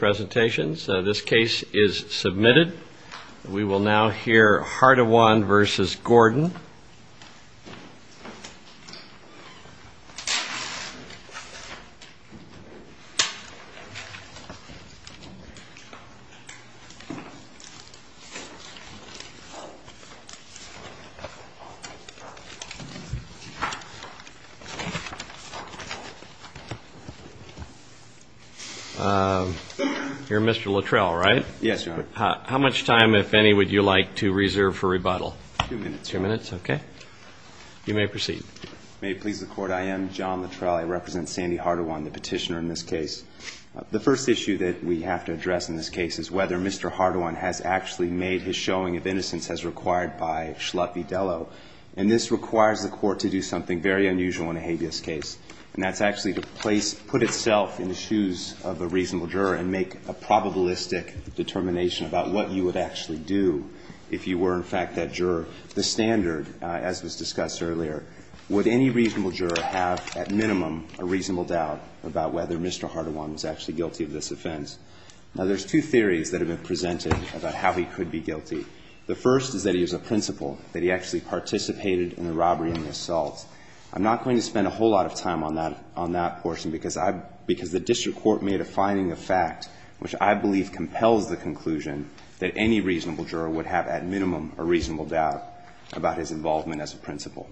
So this case is submitted. We will now hear Hardawan v. Gordon. You're Mr. Luttrell, right? Yes, Your Honor. How much time, if any, would you like to reserve for rebuttal? Two minutes. Two minutes, okay. You may proceed. May it please the Court, I am John Luttrell. I represent Sandy Hardawan, the petitioner in this case. The first issue that we have to address in this case is whether Mr. Hardawan has actually made his showing of innocence as required by Schlott v. Dello. And this requires the Court to do something very unusual in a habeas case. And that's actually to put itself in the shoes of a reasonable juror and make a probabilistic determination about what you would actually do if you were, in fact, that juror. The standard, as was discussed earlier, would any reasonable juror have, at minimum, a reasonable doubt about whether Mr. Hardawan was actually guilty of this offense? Now, there's two theories that have been presented about how he could be guilty. The first is that he is a principal, that he actually participated in the robbery and the assault. I'm not going to spend a whole lot of time on that portion because the district court made a finding of fact which I believe compels the conclusion that any reasonable juror would have, at minimum, a reasonable doubt about his involvement as a principal.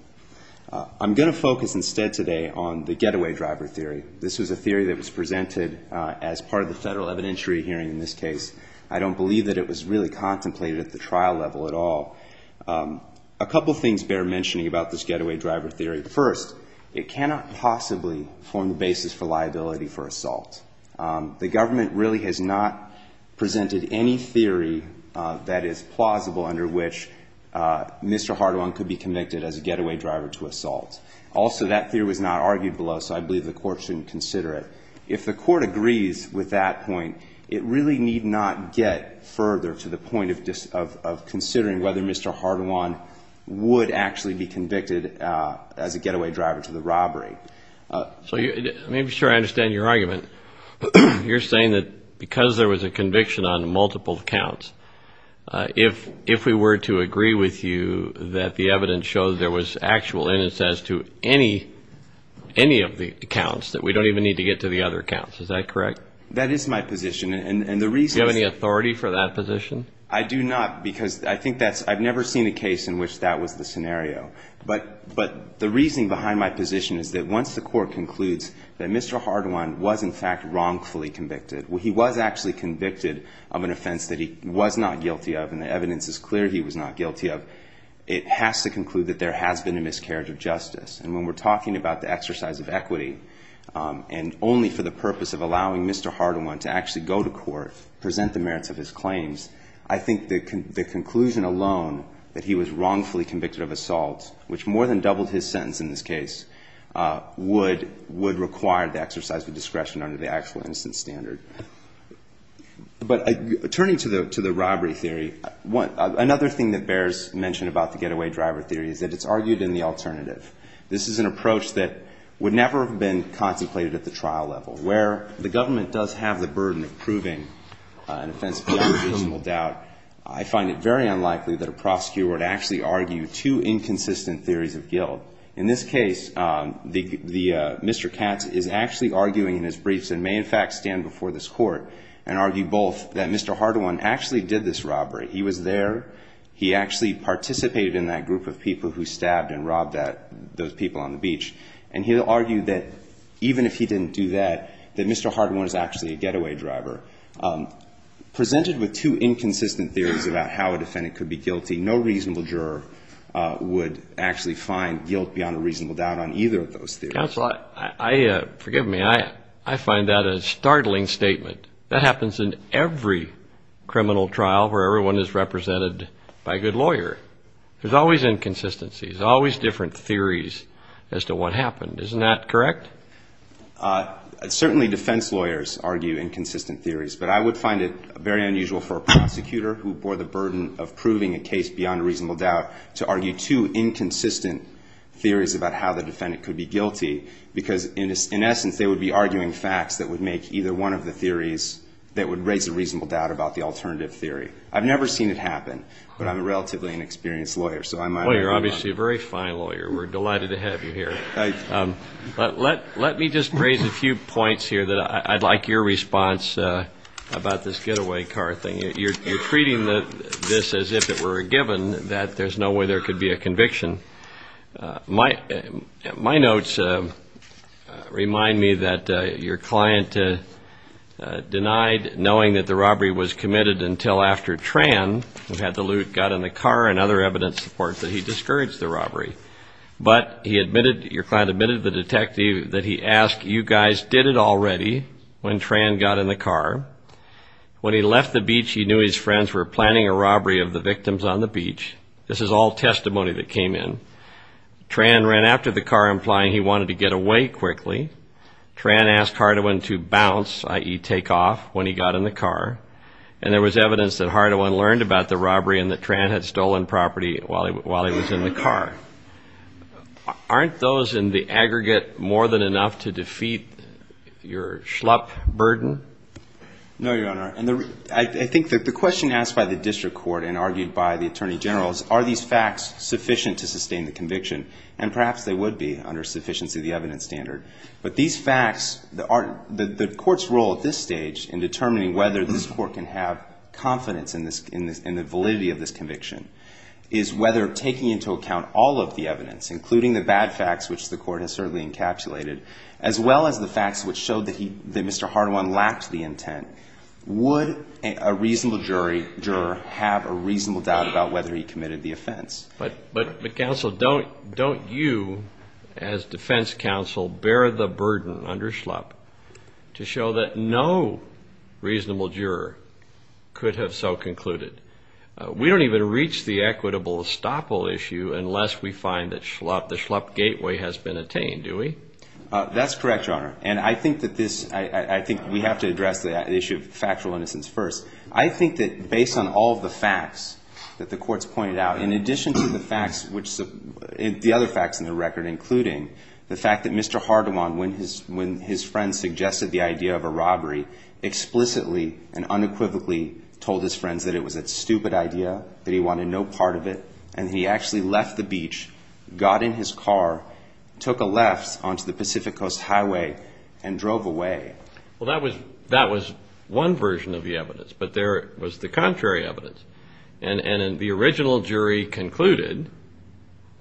I'm going to focus instead today on the getaway driver theory. This was a theory that was presented as part of the federal evidentiary hearing in this case. I don't believe that it was really contemplated at the trial level at all. A couple things bear mentioning about this getaway driver theory. First, it cannot possibly form the basis for liability for assault. The government really has not presented any theory that is plausible under which Mr. Hardawan could be convicted as a getaway driver to assault. Also, that theory was not argued below, so I believe the court shouldn't consider it. If the court agrees with that point, it really need not get further to the point of considering whether Mr. Hardawan would actually be convicted as a getaway driver to the robbery. Let me be sure I understand your argument. You're saying that because there was a conviction on multiple counts, if we were to agree with you that the evidence shows there was actual innocence to any of the accounts, that we don't even need to get to the other accounts. Is that correct? That is my position. Do you have any authority for that position? I do not, because I've never seen a case in which that was the scenario. But the reasoning behind my position is that once the court concludes that Mr. Hardawan was in fact wrongfully convicted, he was actually convicted of an offense that he was not guilty of and the evidence is clear he was not guilty of, it has to conclude that there has been a miscarriage of justice. And when we're talking about the exercise of equity and only for the purpose of allowing Mr. Hardawan to actually go to court, present the merits of his claims, I think the conclusion alone that he was wrongfully convicted of assault, which more than doubled his sentence in this case, would require the exercise of discretion under the actual innocence standard. But turning to the robbery theory, another thing that bears mention about the getaway driver theory is that it's argued in the alternative. This is an approach that would never have been contemplated at the trial level. Where the government does have the burden of proving an offense without reasonable doubt, I find it very unlikely that a prosecutor would actually argue two inconsistent theories of guilt. In this case, Mr. Katz is actually arguing in his briefs and may in fact stand before this court and argue both that Mr. Hardawan actually did this robbery. He was there. He actually participated in that group of people who stabbed and robbed those people on the beach. And he'll argue that even if he didn't do that, that Mr. Hardawan is actually a getaway driver. Presented with two inconsistent theories about how a defendant could be guilty, no reasonable juror would actually find guilt beyond a reasonable doubt on either of those theories. Counsel, forgive me, I find that a startling statement. That happens in every criminal trial where everyone is represented by a good lawyer. There's always inconsistencies, always different theories as to what happened. Isn't that correct? Certainly defense lawyers argue inconsistent theories, but I would find it very unusual for a prosecutor who bore the burden of proving a case beyond a reasonable doubt to argue two inconsistent theories about how the defendant could be guilty. Because in essence, they would be arguing facts that would make either one of the theories that would raise a reasonable doubt about the alternative theory. I've never seen it happen, but I'm a relatively inexperienced lawyer. Well, you're obviously a very fine lawyer. We're delighted to have you here. But let me just raise a few points here that I'd like your response about this getaway car thing. You're treating this as if it were a given, that there's no way there could be a conviction. My notes remind me that your client denied knowing that the robbery was committed until after Tran, who had the loot, got in the car and other evidence supports that he discouraged the robbery. But he admitted, your client admitted to the detective that he asked, you guys did it already when Tran got in the car. When he left the beach, he knew his friends were planning a robbery of the victims on the beach. This is all testimony that came in. Tran ran after the car, implying he wanted to get away quickly. Tran asked Hardewen to bounce, i.e. take off, when he got in the car. And there was evidence that Hardewen learned about the robbery and that Tran had stolen property while he was in the car. Aren't those in the aggregate more than enough to defeat your schlup burden? No, Your Honor. And I think that the question asked by the district court and argued by the attorney generals, are these facts sufficient to sustain the conviction? And perhaps they would be under sufficiency of the evidence standard. But these facts, the court's role at this stage in determining whether this court can have confidence in the validity of this conviction, is whether taking into account all of the evidence, including the bad facts, which the court has certainly encapsulated, as well as the facts which showed that Mr. Hardewen lacked the intent, would a reasonable juror have a reasonable doubt about whether he committed the offense? But counsel, don't you, as defense counsel, bear the burden under schlup to show that no reasonable juror could have so concluded? We don't even reach the equitable estoppel issue unless we find that the schlup gateway has been attained, do we? That's correct, Your Honor. And I think that this, I think we have to address the issue of factual innocence first. I think that based on all of the facts that the court's pointed out, in addition to the facts which, the other facts in the record, including the fact that Mr. Hardewen, when his friend suggested the idea of a robbery, explicitly and unequivocally told his friends that it was a stupid idea, that he wanted no part of it, and he actually left the beach, got in his car, took a left onto the Pacific Coast Highway, and drove away. Well, that was one version of the evidence, but there was the contrary evidence. And the original jury concluded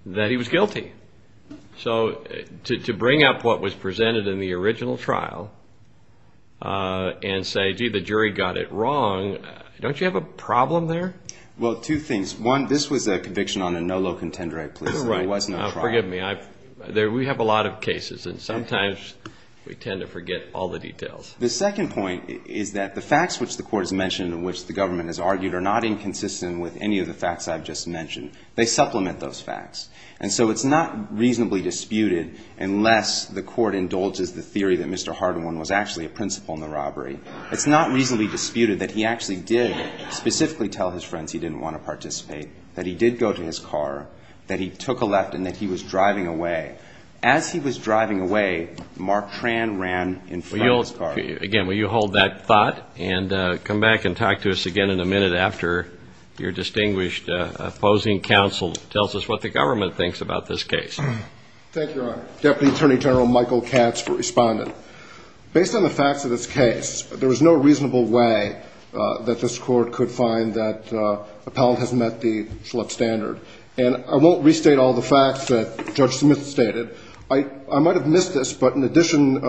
that he was guilty. So, to bring up what was presented in the original trial, and say, gee, the jury got it wrong, don't you have a problem there? Well, two things. One, this was a conviction on a no low contender act, please. There was no trial. Forgive me. We have a lot of cases, and sometimes we tend to forget all the details. The second point is that the facts which the court has mentioned, which the government has argued, are not inconsistent with any of the facts I've just mentioned. They supplement those facts. And so it's not reasonably disputed, unless the court indulges the theory that Mr. Hardewen was actually a principal in the robbery. It's not reasonably disputed that he actually did specifically tell his friends he didn't want to participate, that he did go to his car, that he took a left, and that he was driving away. As he was driving away, Mark Tran ran in front of his car. Again, will you hold that thought, and come back and talk to us again in a minute after your distinguished opposing counsel tells us what the government thinks about this case. Thank you, Your Honor. Deputy Attorney General Michael Katz for responding. Based on the facts of this case, there was no reasonable way that this court could find that appellant has met the Schlecht standard. And I won't restate all the facts that Judge Smith stated. I might have missed this, but in addition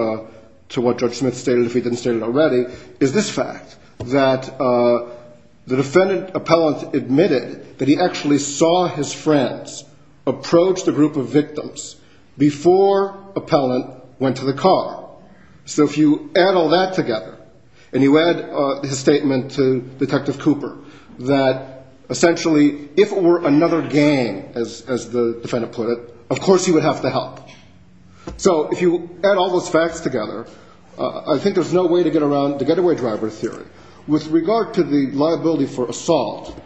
to what Judge Smith stated, if he didn't state it already, is this fact, that the defendant appellant admitted that he actually saw his friends approach the group of victims before appellant went to the car. So if you add all that together, and you add his statement to Detective Cooper, that essentially if it were another gang, as the defendant put it, of course he would have to help. So if you add all those facts together, I think there's no way to get around the getaway driver theory. With regard to the liability for assault,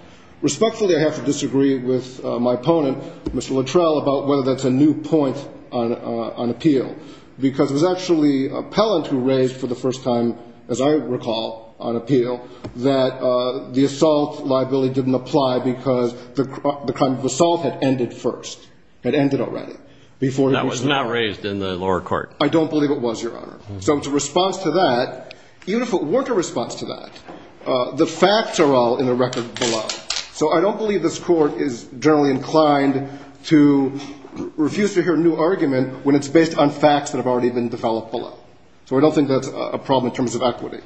respectfully I have to disagree with my opponent, Mr. Luttrell, about whether that's a new point on appeal. Because it was actually appellant who raised, for the first time, as I recall, on appeal, that the assault liability didn't apply because the crime of assault had ended first. Had ended already. That was not raised in the lower court. I don't believe it was, Your Honor. So in response to that, even if it weren't a response to that, the facts are all in the record below. So I don't believe this court is generally inclined to refuse to hear a new argument when it's based on facts that have already been developed below. So I don't think that's a problem in terms of equity.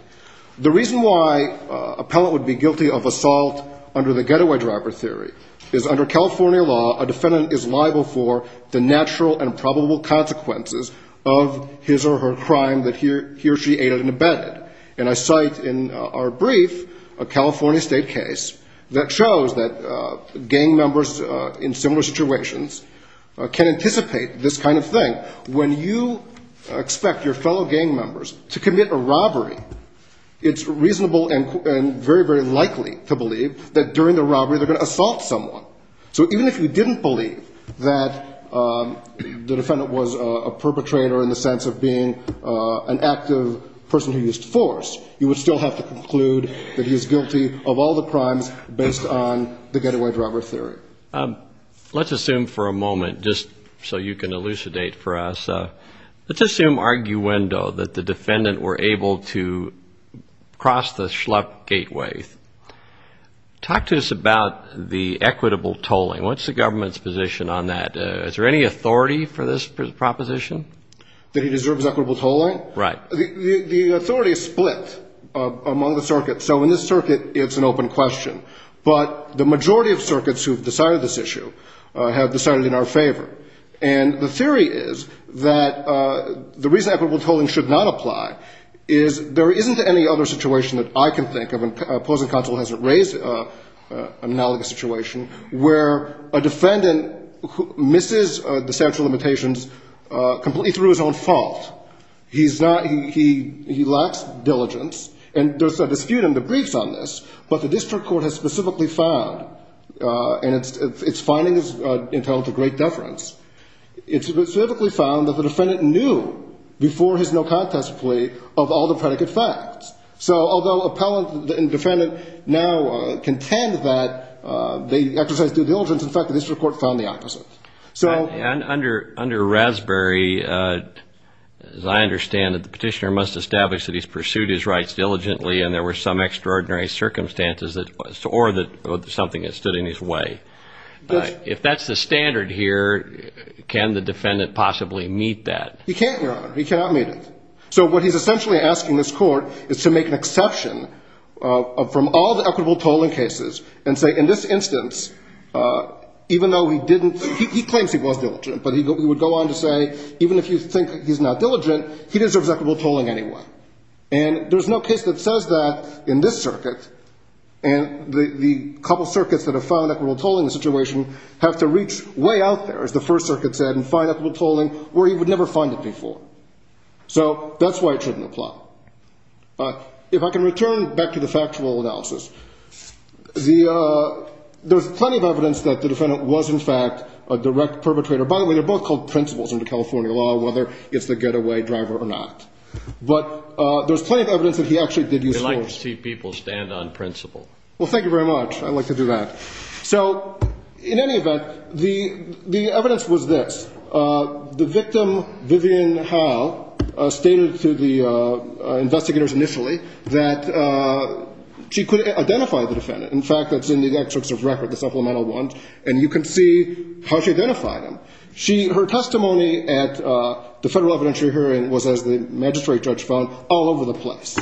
The reason why appellant would be guilty of assault under the getaway driver theory is under California law, a defendant is liable for the natural and probable consequences of his or her crime that he or she aided and abetted. And I cite in our brief a California state case that shows that gang members in similar situations can anticipate this kind of thing. When you expect your fellow gang members to commit a robbery, it's reasonable and very, very likely to believe that during the robbery they're going to assault someone. So even if you didn't believe that the defendant was a perpetrator in the sense of being an active person who used force, you would still have to conclude that he is guilty of all the crimes based on the getaway driver theory. Let's assume for a moment, just so you can elucidate for us, let's assume arguendo, that the defendant were able to cross the schluck gateway. Talk to us about the equitable tolling. What's the government's position on that? Is there any authority for this proposition? That he deserves equitable tolling? The authority is split among the circuits. So in this circuit, it's an open question. But the majority of circuits who've decided this issue have decided in our favor. And the theory is that the reason equitable tolling should not apply is there isn't any other situation that I can think of, and opposing counsel hasn't raised an analogous situation, where a defendant misses the statute of limitations completely through his own fault. He lacks diligence, and there's a dispute in the briefs on this, but the district court has specifically found, and it's finding is entitled to great deference, it's specifically found that the defendant knew, before his no contest plea, of all the predicate facts. So although appellant and defendant now contend that they exercised due diligence, in fact, the district court found the opposite. And under Raspberry, as I understand it, the petitioner must establish that he's pursued his rights diligently, and there were some extraordinary circumstances, or that something has stood in his way. If that's the standard here, can the defendant possibly meet that? He can't, Your Honor. He cannot meet it. So what he's essentially asking this court is to make an exception from all the equitable tolling cases, and say, in this instance, even though he claims he was diligent, but he would go on to say, even if you think he's not diligent, he deserves equitable tolling anyway. And there's no case that says that in this circuit, and the couple circuits that have found equitable tolling in this situation have to reach way out there, as the First Circuit said, and find equitable tolling where he would never find it before. So that's why it shouldn't apply. If I can return back to the factual analysis, there's plenty of evidence that the defendant was, in fact, a direct perpetrator. By the way, they're both called principles under California law, whether it's the getaway driver or not. But there's plenty of evidence that he actually did use force. We like to see people stand on principle. Well, thank you very much. I like to do that. So, in any event, the evidence was this. The victim, Vivian Howell, stated to the investigators initially that she could identify the defendant. In fact, that's in the excerpts of record, the supplemental ones, and you can see how she identified him. Her testimony at the federal evidentiary hearing was, as the magistrate judge found, all over the place.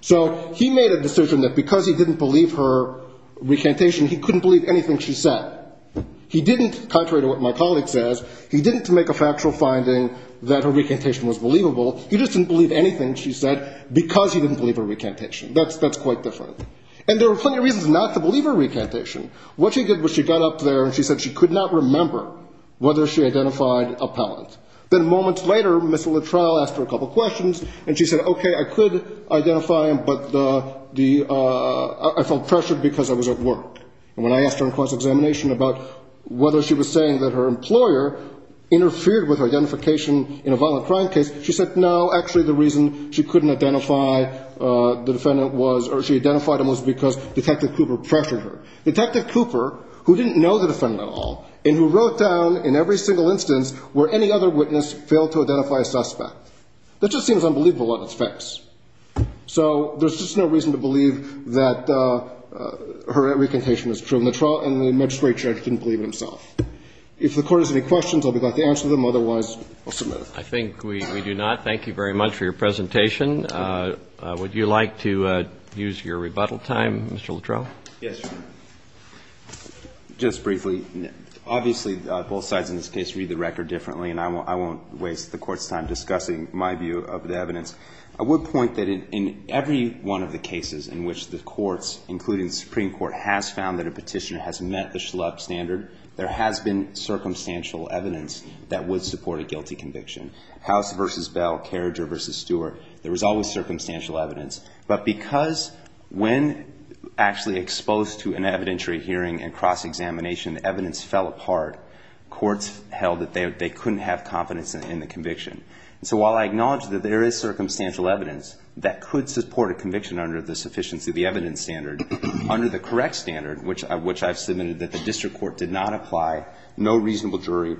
So he made a decision that because he didn't believe her recantation, he couldn't believe anything she said. He didn't, contrary to what my colleague says, he didn't make a factual finding that her recantation was believable. He just didn't believe anything she said because he didn't believe her recantation. That's quite different. And there were plenty of reasons not to believe her recantation. What she did was she got up there and she said she could not remember whether she identified a pellant. Then moments later, Ms. Luttrell asked her a couple questions, and she said, okay, I could identify him, but I felt pressured because I was at work. And when I asked her in cross-examination about whether she was saying that her employer interfered with her identification in a violent crime case, she said, no, actually the reason she couldn't identify the defendant was, or she identified him was because Detective Cooper pressured her. Detective Cooper, who didn't know the defendant at all, and who wrote down in every single instance where any other witness failed to identify a suspect, that just seems unbelievable in a lot of respects. So there's just no reason to believe that her recantation was true. And the magistrate judge didn't believe it himself. If the Court has any questions, I'll be glad to answer them. Otherwise, I'll submit it. I think we do not. Thank you very much for your presentation. Would you like to use your rebuttal time, Mr. Luttrell? Yes, Your Honor. Just briefly, obviously both sides in this case read the record differently, and I won't waste the Court's time discussing my view of the evidence. I would point that in every one of the cases in which the courts, including the Supreme Court, has found that a petitioner has met the Schlupp standard, there has been circumstantial evidence that would support a guilty conviction. House v. Bell, Carriger v. Stewart, there was always circumstantial evidence. But because when actually exposed to an evidentiary hearing and cross-examination, evidence fell apart. Courts held that they couldn't have confidence in the conviction. So while I acknowledge that there is circumstantial evidence that could support a conviction under the sufficiency of the evidence standard, under the correct standard, which I've submitted that the district court did not apply, no reasonable jury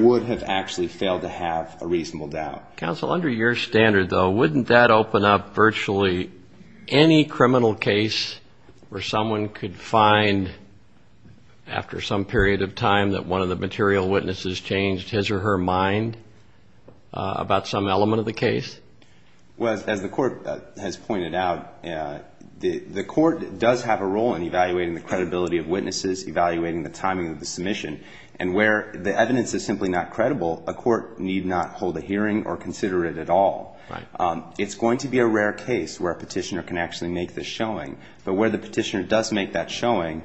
would have actually failed to have a reasonable doubt. Counsel, under your standard, though, wouldn't that open up virtually any criminal case where someone could find after some period of time that one of the material witnesses changed his or her mind about some element of the case? Well, as the court has pointed out, the court does have a role in evaluating the credibility of witnesses, evaluating the timing of the submission. And where the evidence is simply not credible, a court need not hold a hearing or consider it at all. Right. It's going to be a rare case where a petitioner can actually make this showing. But where the petitioner does make that showing,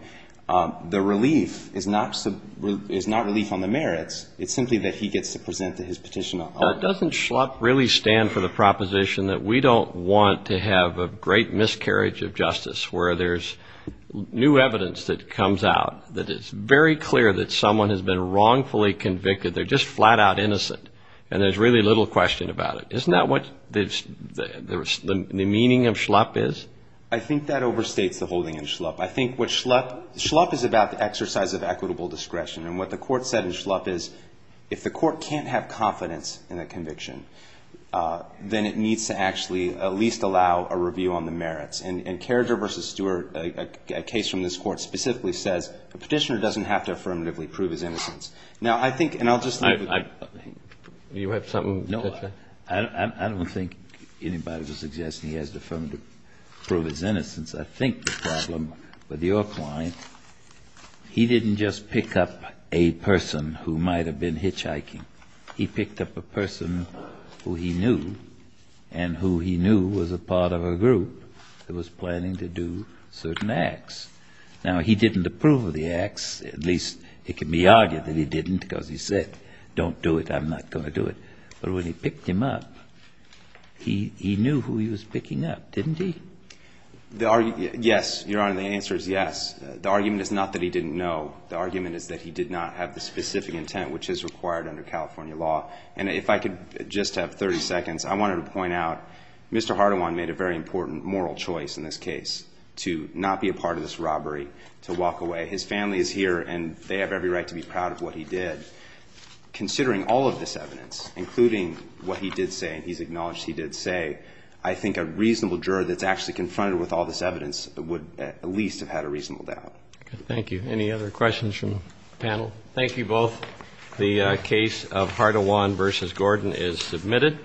the relief is not relief on the merits. It's simply that he gets to present his petition. Doesn't SHLUP really stand for the proposition that we don't want to have a great miscarriage of justice where there's new evidence that comes out that it's very clear that someone has been wrongfully convicted, they're just flat-out innocent, and there's really little question about it. Isn't that what the meaning of SHLUP is? I think that overstates the whole thing in SHLUP. I think what SHLUP, SHLUP is about the exercise of equitable discretion. And what the court said in SHLUP is, if the court can't have confidence in a conviction, then it needs to actually at least allow a review on the merits. And Carriger v. Stewart, a case from this court, specifically says a petitioner doesn't have to affirmatively prove his innocence. Now, I think, and I'll just leave with that. You have something to say? I don't think anybody would suggest he has to affirmatively prove his innocence. I think the problem with your client, he didn't just pick up a person who might have been hitchhiking. He picked up a person who he knew, and who he knew was a part of a group that was planning to do certain acts. Now, he didn't approve of the acts, at least it can be argued that he didn't because he said, don't do it, I'm not going to do it. But when he picked him up, he knew who he was picking up, didn't he? Yes, Your Honor, the answer is yes. The argument is not that he didn't know. The argument is that he did not have the specific intent, which is required under California law. And if I could just have 30 seconds, I wanted to point out Mr. Hardawan made a very important moral choice in this case, to not be a part of this robbery, to walk away. His family is here, and they have every right to be proud of what he did. Considering all of this evidence, including what he did say, and he's acknowledged he did say, I think a reasonable juror that's actually confronted with all this evidence would at least have had a reasonable doubt. Thank you. Any other questions from the panel? Thank you both. The case of Hardawan v. Gordon is submitted.